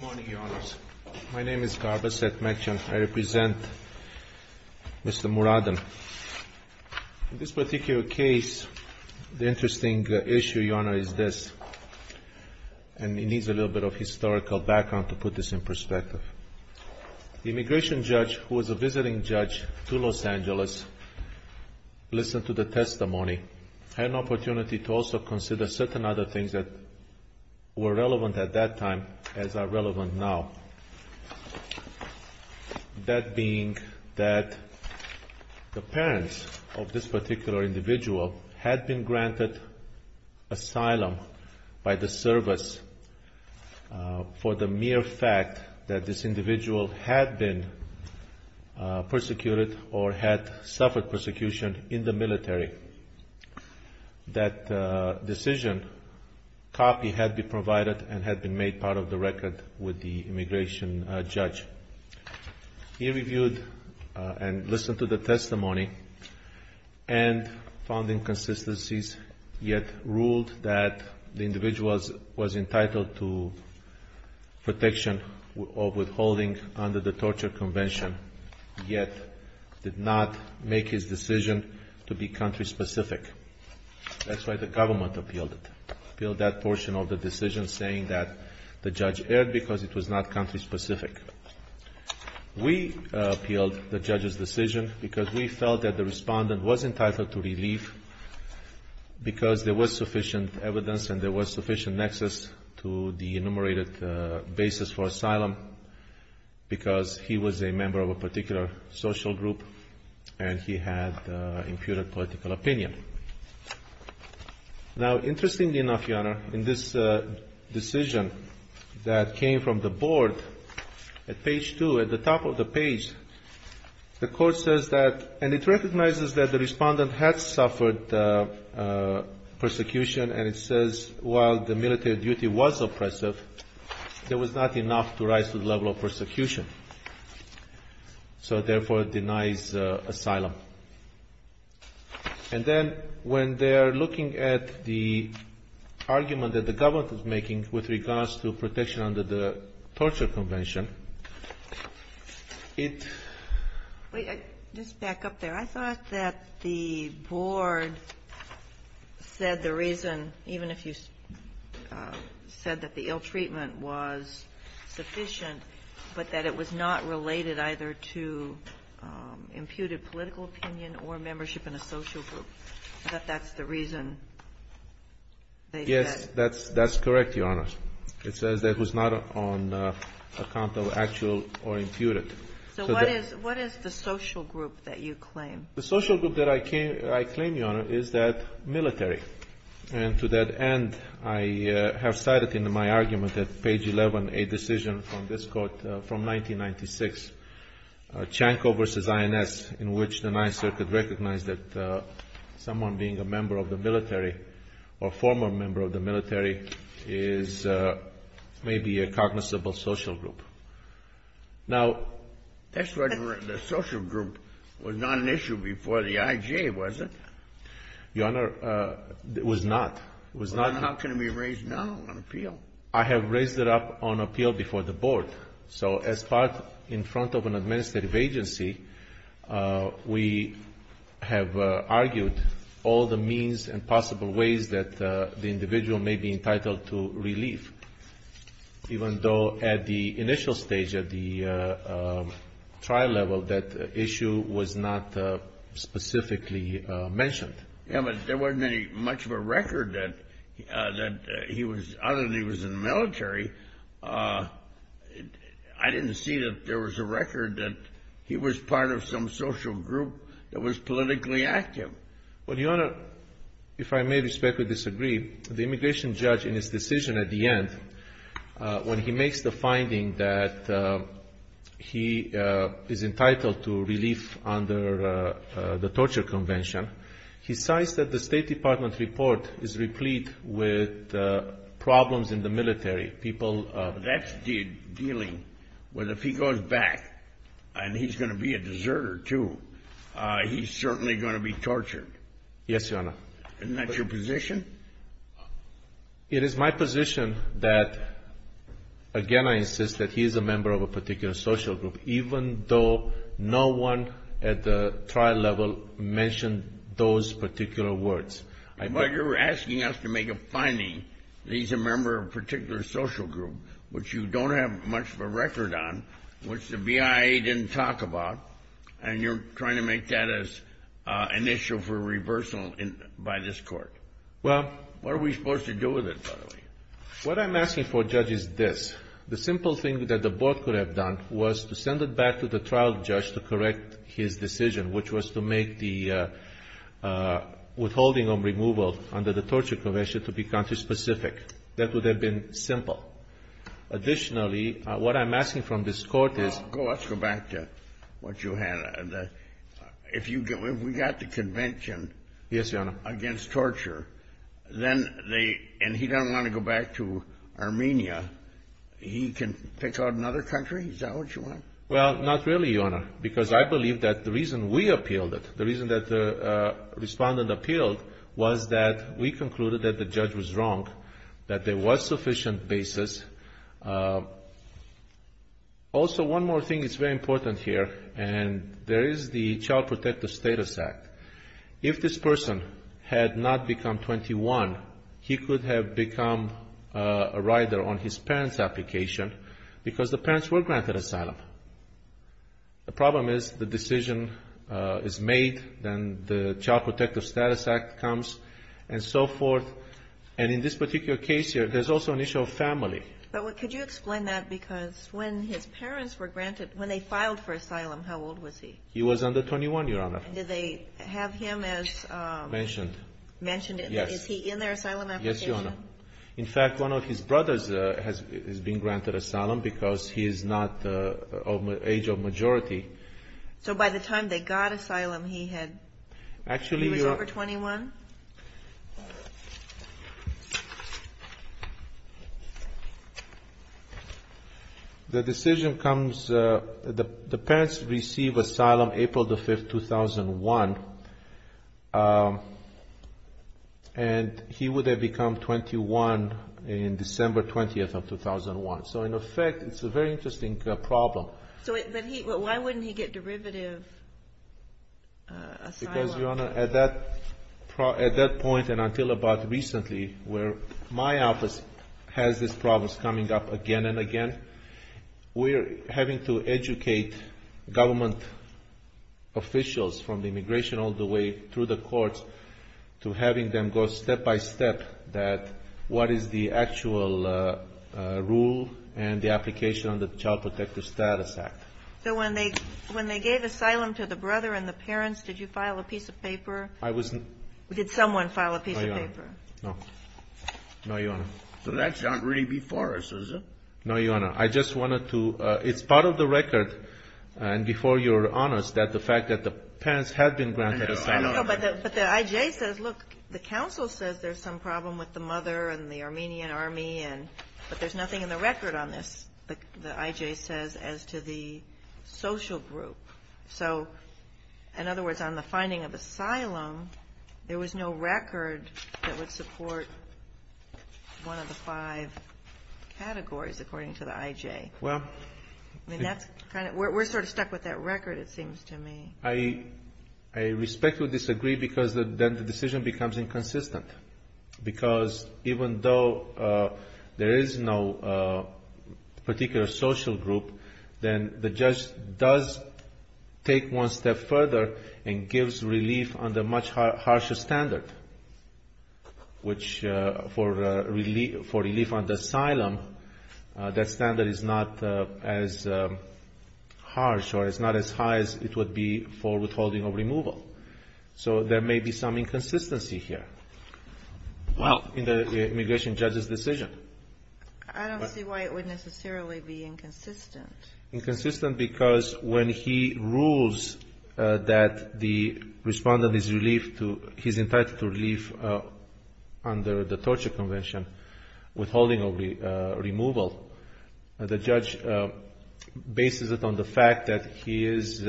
Good morning, Your Honors. My name is Garbaset Mekcan. I represent Mr. Muradin. In this particular case, the interesting issue, Your Honor, is this. And it needs a little bit of historical background to put this in perspective. The immigration judge, who was a visiting judge to Los Angeles, listened to the testimony, had an opportunity to also consider certain other things that were relevant at that time as are relevant now. That being that the parents of this particular individual had been granted asylum by the service for the mere fact that this individual had been persecuted or had suffered persecution in the military. That decision copy had been provided and had been made part of the record with the immigration judge. He reviewed and listened to the testimony and found inconsistencies, yet ruled that the individual was entitled to protection or withholding under the torture convention, yet did not make his decision to be country-specific. That's why the government appealed it, appealed that portion of the decision saying that the judge erred because it was not country-specific. We appealed the judge's decision because we felt that the respondent was entitled to relief because there was sufficient evidence and there was sufficient nexus to the enumerated basis for asylum because he was a member of a particular social group and he had imputed political opinion. Now, interestingly enough, Your Honor, in this decision that came from the board at page two, at the top of the page, the court says that, and it recognizes that the respondent had suffered persecution and it says while the military duty was oppressive, there was not enough to rise to the level of persecution, so therefore it denies asylum. And then when they are looking at the argument that the government is making with regards to protection under the torture convention, it --" Ginsburg-Miller Just back up there. I thought that the board said the reason, even if you said that the ill treatment was sufficient, but that it was not related either to imputed political opinion or membership in a social group. I thought that's the reason they said. Yeah, that's correct, Your Honor. It says that it was not on account of actual or imputed. So what is the social group that you claim? The social group that I claim, Your Honor, is that military. And to that end, I have cited in my argument at page 11 a decision from this court from 1996, Chanco v. INS, in which the Ninth Circuit recognized that someone being a member of the military or former member of the military is maybe a cognizable social group. Now, that's what the social group was not an issue before the IJ, was it? Your Honor, it was not. It was not. Well, then how can it be raised now on appeal? I have raised it up on appeal before the board. So as part in front of an administrative agency, we have argued all the means and possible ways that the individual may be entitled to relief, even though at the initial stage, at the trial level, that issue was not specifically mentioned. Yeah, but there wasn't much of a record that he was, other than he was in the military, I didn't see that there was a record that he was part of some social group that was politically active. Well, Your Honor, if I may respectfully disagree, the immigration judge in his decision at the end, when he makes the finding that he is entitled to relief under the torture convention, he cites that the State Department report is replete with problems in the military. That's dealing with if he goes back and he's going to be a deserter, too, he's certainly going to be tortured. Yes, Your Honor. Isn't that your position? It is my position that, again, I insist that he is a member of a particular social group, even though no one at the trial level mentioned those particular words. But you're asking us to make a finding that he's a member of a particular social group, which you don't have much of a record on, which the BIA didn't talk about, and you're trying to make that as an issue for reversal by this Court. Well. What are we supposed to do with it, by the way? What I'm asking for, Judge, is this. The simple thing that the Board could have done was to send it back to the trial judge to correct his decision, which was to make the withholding of removal under the torture convention to be country-specific. That would have been simple. Additionally, what I'm asking from this Court is — Well, let's go back to what you had. If we got the convention — Yes, Your Honor. — against torture, and he doesn't want to go back to Armenia, he can pick out another country? Is that what you want? Well, not really, Your Honor, because I believe that the reason we appealed it, the reason that the Respondent appealed was that we concluded that the judge was wrong, that there was sufficient basis. Also, one more thing that's very important here, and there is the Child Protective Status Act. If this person had not become 21, he could have become a rider on his parents' application because the parents were granted asylum. The problem is the decision is made, then the Child Protective Status Act comes, and so forth. And in this particular case here, there's also an issue of family. But could you explain that? Because when his parents were granted — when they filed for asylum, how old was he? He was under 21, Your Honor. And did they have him as — Mentioned. — mentioned? Is he in their asylum application? Yes, Your Honor. In fact, one of his brothers has been granted asylum because he is not of age of majority. So by the time they got asylum, he had — Actually —— he was over 21? The decision comes — the parents receive asylum April the 5th, 2001, and he would have become 21 in December 20th of 2001. So in effect, it's a very interesting problem. So why wouldn't he get derivative asylum? Because, Your Honor, at that point and until about recently, where my office has these problems coming up again and again, we're having to educate government officials from the immigration all the way through the courts to having them go step by step that what is the actual rule and the application of the Child Protective Status Act. So when they gave asylum to the brother and the parents, did you file a piece of paper? I was — Did someone file a piece of paper? No, Your Honor. No. No, Your Honor. So that's not really before us, is it? No, Your Honor. I just wanted to — it's part of the record. And before you're honest, that the fact that the parents had been granted asylum — I know. I know. But the I.J. says, look, the counsel says there's some problem with the mother and the Armenian army, but there's nothing in the record on this, the I.J. says, as to the social group. So, in other words, on the finding of asylum, there was no record that would support one of the five categories, according to the I.J. Well — I mean, that's kind of — we're sort of stuck with that record, it seems to me. I respectfully disagree, because then the decision becomes inconsistent. Because even though there is no particular social group, then the judge does take one step further and gives relief on the much harsher standard, which for relief on the asylum, that standard is not as harsh or it's not as high as it would be for withholding of removal. So there may be some inconsistency here in the immigration judge's decision. I don't see why it would necessarily be inconsistent. Inconsistent because when he rules that the Respondent is entitled to relief under the Torture Convention, withholding of removal, the judge bases it on the fact that he is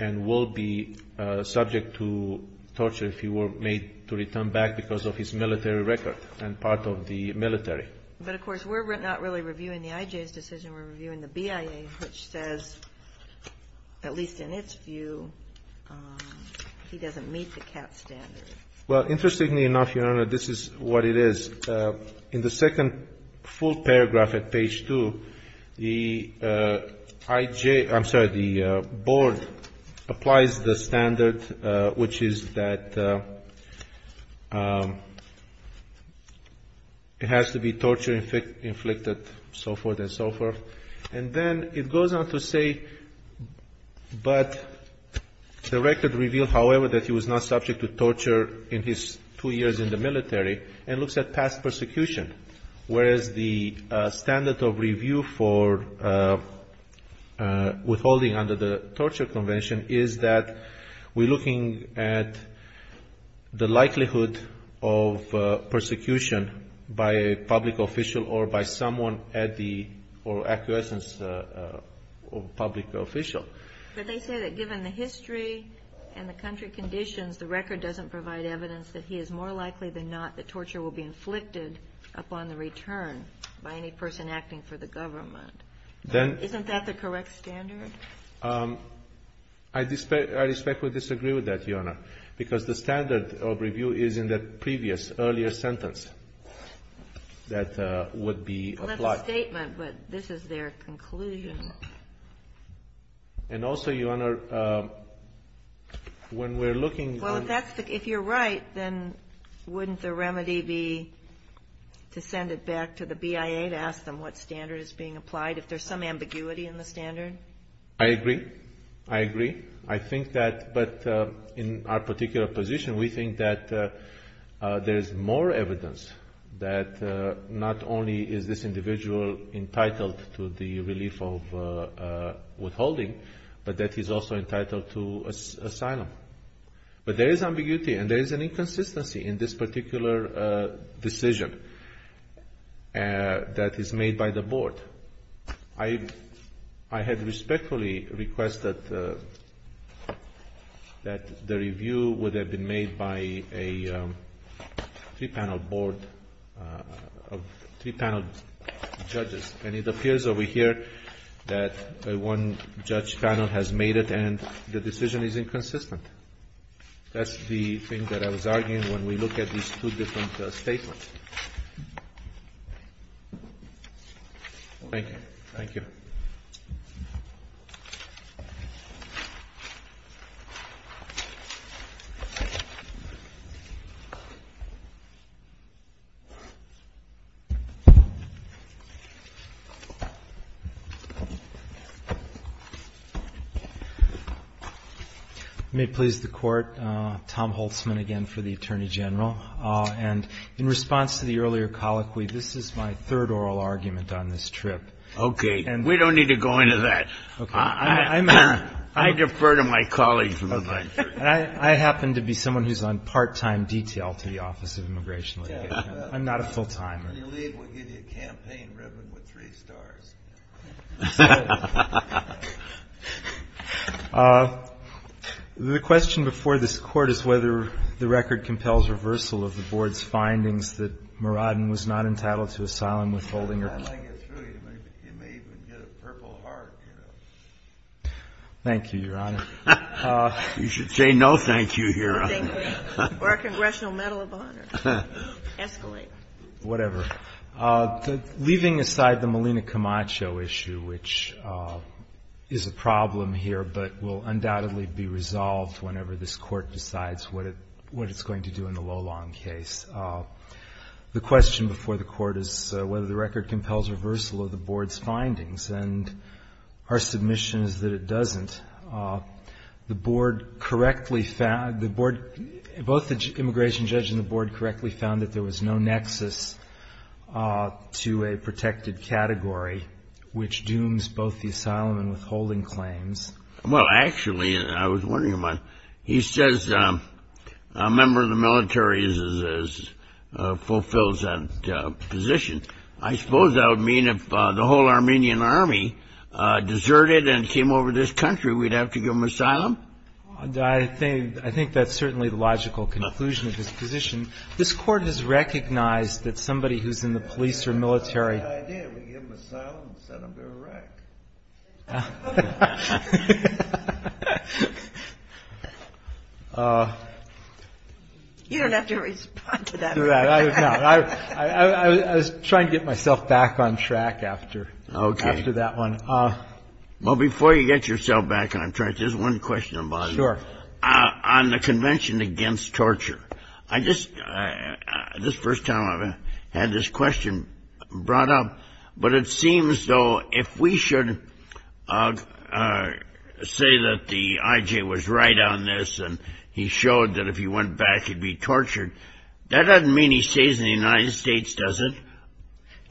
and will be subject to torture if he were made to return back because of his military record and part of the military. But, of course, we're not really reviewing the IJ's decision. We're reviewing the BIA's, which says, at least in its view, he doesn't meet the CAT standard. Well, interestingly enough, Your Honor, this is what it is. In the second full paragraph at page 2, the IJ, I'm sorry, the board applies the standard, which is that it has to be torture inflicted, so forth and so forth. And then it goes on to say, but the record revealed, however, that he was not subject to torture in his two years in the military and looks at past persecution, whereas the standard of review for withholding under the Torture Convention is that we're looking at the likelihood of persecution by a public official or by someone at the or acquiescence of a public official. But they say that given the history and the country conditions, the record doesn't provide evidence that he is more likely than not that torture will be inflicted upon the return by any person acting for the government. Isn't that the correct standard? I respectfully disagree with that, Your Honor, because the standard of review is in the previous earlier sentence that would be applied. Well, that's a statement, but this is their conclusion. And also, Your Honor, when we're looking on the standard of review. Well, if that's the case, if you're right, then wouldn't the remedy be to send it back to the BIA to ask them what standard is being applied, if there's some ambiguity in the standard? I agree. I agree. But in our particular position, we think that there's more evidence that not only is this individual entitled to the relief of withholding, but that he's also entitled to asylum. But there is ambiguity and there is an inconsistency in this particular decision that is made by the Board. I had respectfully requested that the review would have been made by a three-panel Board of three-panel judges. And it appears over here that one judge panel has made it, and the decision is inconsistent. That's the thing that I was arguing when we look at these two different statements. Thank you. Thank you. May it please the Court, Tom Holtzman again for the Attorney General. And in response to the earlier colloquy, this is my third oral argument on this trip. Okay. And we don't need to go into that. Okay. I defer to my colleagues. I happen to be someone who's on part-time detail to the Office of Immigration. I'm not a full-timer. When you leave, we'll give you a campaign ribbon with three stars. The question before this Court is whether the record compels reversal of the Board's findings that Muradin was not entitled to asylum withholding. Thank you, Your Honor. You should say no thank you, Your Honor. Or a Congressional Medal of Honor. Escalate. Whatever. Leaving aside the Malina Camacho issue, which is a problem here but will undoubtedly be resolved whenever this Court decides what it's going to do in the Lolan case, the question before the Court is whether the record compels reversal of the Board's findings. And our submission is that it doesn't. Both the immigration judge and the Board correctly found that there was no nexus to a protected category, which dooms both the asylum and withholding claims. Well, actually, I was wondering about it. He says a member of the military fulfills that position. I suppose that would mean if the whole Armenian army deserted and came over this country, we'd have to give them asylum? I think that's certainly the logical conclusion of his position. This Court has recognized that somebody who's in the police or military. That's not a bad idea. We give them asylum and set them to Iraq. You don't have to respond to that. I was trying to get myself back on track after that one. Well, before you get yourself back on track, there's one question about it. Sure. On the convention against torture. This is the first time I've had this question brought up, but it seems, though, if we should say that the I.J. was right on this and he showed that if he went back, he'd be tortured, that doesn't mean he stays in the United States, does it?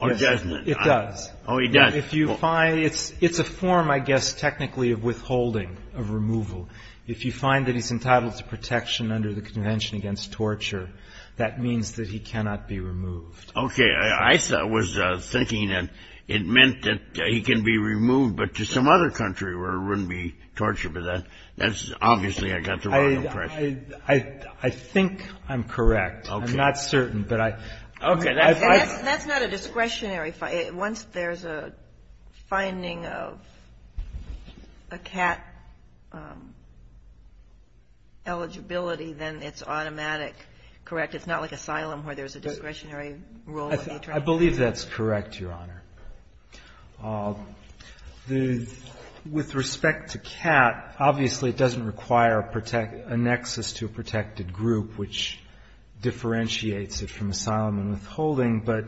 Or doesn't it? It does. Oh, he does. If you find it's a form, I guess, technically of withholding, of removal. If you find that he's entitled to protection under the convention against torture, that means that he cannot be removed. Okay. I was thinking that it meant that he can be removed, but to some other country where it wouldn't be torture. But that's obviously I got the wrong impression. I think I'm correct. Okay. I'm not certain, but I. Okay. That's not a discretionary. Once there's a finding of a cat eligibility, then it's automatic, correct? It's not like asylum where there's a discretionary rule. I believe that's correct, Your Honor. With respect to cat, obviously it doesn't require a nexus to a protected group, which differentiates it from asylum and withholding, but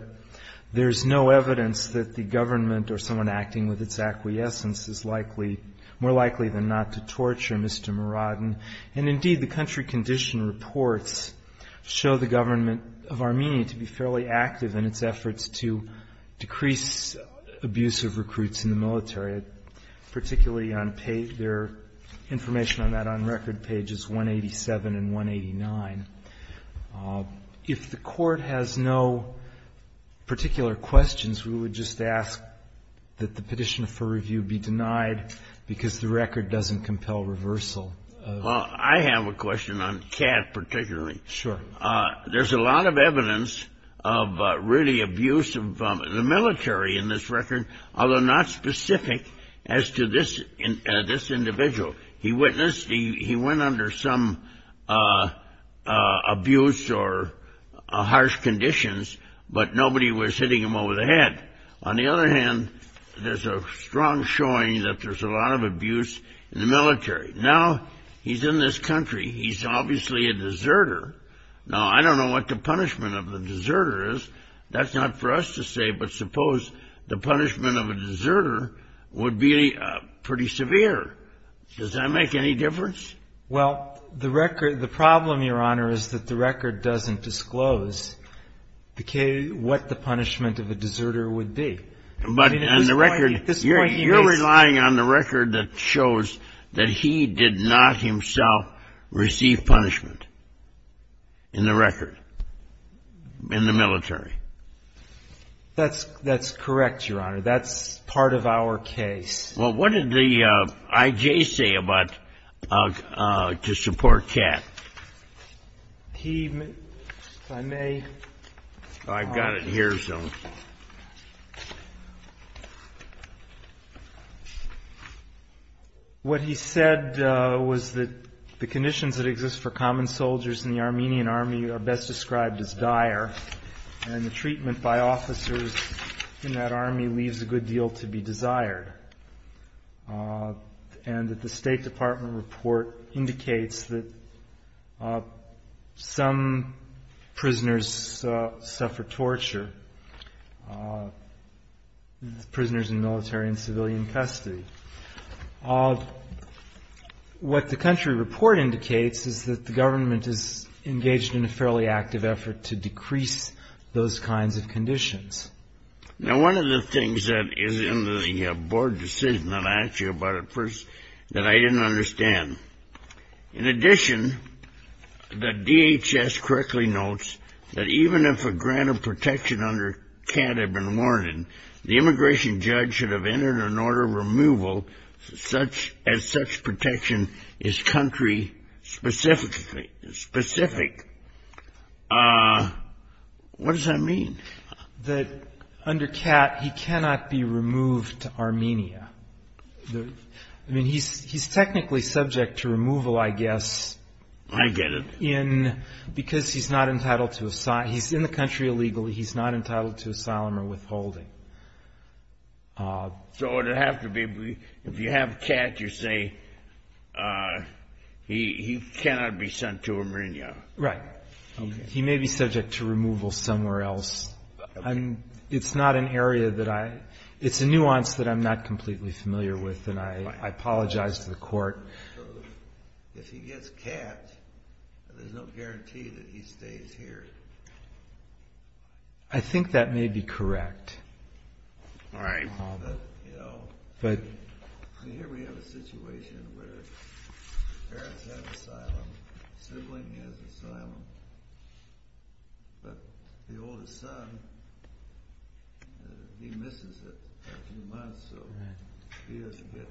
there's no evidence that the government or someone acting with its acquiescence is likely, more likely than not, to torture Mr. Muradin. And, indeed, the country condition reports show the government of Armenia to be fairly active in its efforts to decrease abuse of recruits in the military, particularly on their information on that on record pages 187 and 189. If the Court has no particular questions, we would just ask that the petition for review be denied because the record doesn't compel reversal. Well, I have a question on cat particularly. Sure. There's a lot of evidence of really abuse of the military in this record, although not specific as to this individual. He went under some abuse or harsh conditions, but nobody was hitting him over the head. On the other hand, there's a strong showing that there's a lot of abuse in the military. Now he's in this country. He's obviously a deserter. Now, I don't know what the punishment of the deserter is. That's not for us to say, but suppose the punishment of a deserter would be pretty severe. Does that make any difference? Well, the record, the problem, Your Honor, is that the record doesn't disclose what the punishment of a deserter would be. But on the record, you're relying on the record that shows that he did not himself receive punishment in the record, in the military. That's correct, Your Honor. That's part of our case. Well, what did the I.J. say about to support cat? He, if I may. I've got it here, so. What he said was that the conditions that exist for common soldiers in the Armenian Army are best described as dire, and the treatment by officers in that army leaves a good deal to be desired, and that the State Department report indicates that some prisoners suffer torture, prisoners in military and civilian custody. What the country report indicates is that the government is engaged in a fairly active effort to decrease those kinds of conditions. Now, one of the things that is in the board decision that I asked you about at first that I didn't understand. In addition, the DHS correctly notes that even if a grant of protection under cat had been warranted, the immigration judge should have entered an order of removal as such protection is country-specific. What does that mean? That under cat, he cannot be removed to Armenia. I mean, he's technically subject to removal, I guess. I get it. Because he's not entitled to asylum. He's in the country illegally. He's not entitled to asylum or withholding. So it would have to be, if you have cat, you say he cannot be sent to Armenia. Right. He may be subject to removal somewhere else. It's not an area that I, it's a nuance that I'm not completely familiar with, and I apologize to the court. If he gets cat, there's no guarantee that he stays here. I think that may be correct. All right. But here we have a situation where parents have asylum, sibling has asylum, but the oldest son, he misses it for a few months, so he doesn't get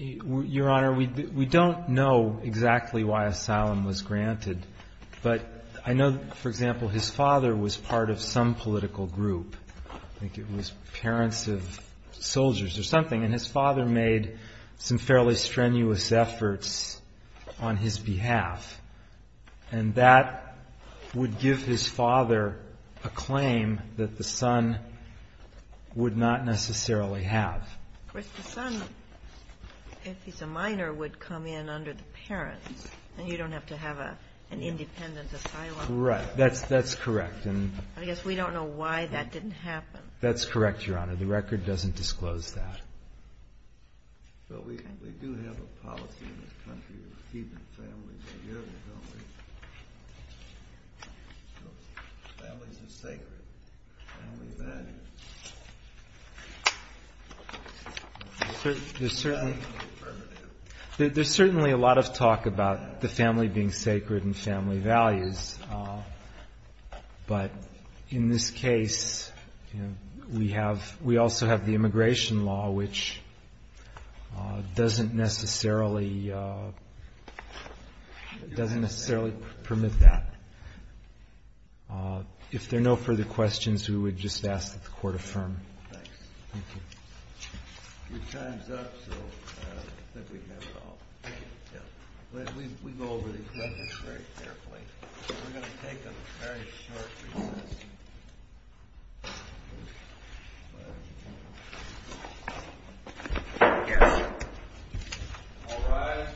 anything. Your Honor, we don't know exactly why asylum was granted, but I know, for example, his father was part of some political group. I think it was parents of soldiers or something, and his father made some fairly strenuous efforts on his behalf. And that would give his father a claim that the son would not necessarily have. Of course, the son, if he's a minor, would come in under the parents, and you don't have to have an independent asylum. Right. That's correct. I guess we don't know why that didn't happen. That's correct, Your Honor. The record doesn't disclose that. But we do have a policy in this country of keeping families together, don't we? Families are sacred. Family values. There's certainly a lot of talk about the family being sacred and family values, but in this case, we also have the immigration law, which doesn't necessarily permit that. If there are no further questions, we would just ask that the Court affirm. Thanks. Thank you. Your time's up, so I think we have it all. Thank you. We go over these records very carefully. We're going to take a very short recess. All rise.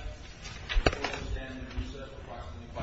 The Court will stand at recess for approximately five minutes. And if it's good, Your Honor, we will recite it.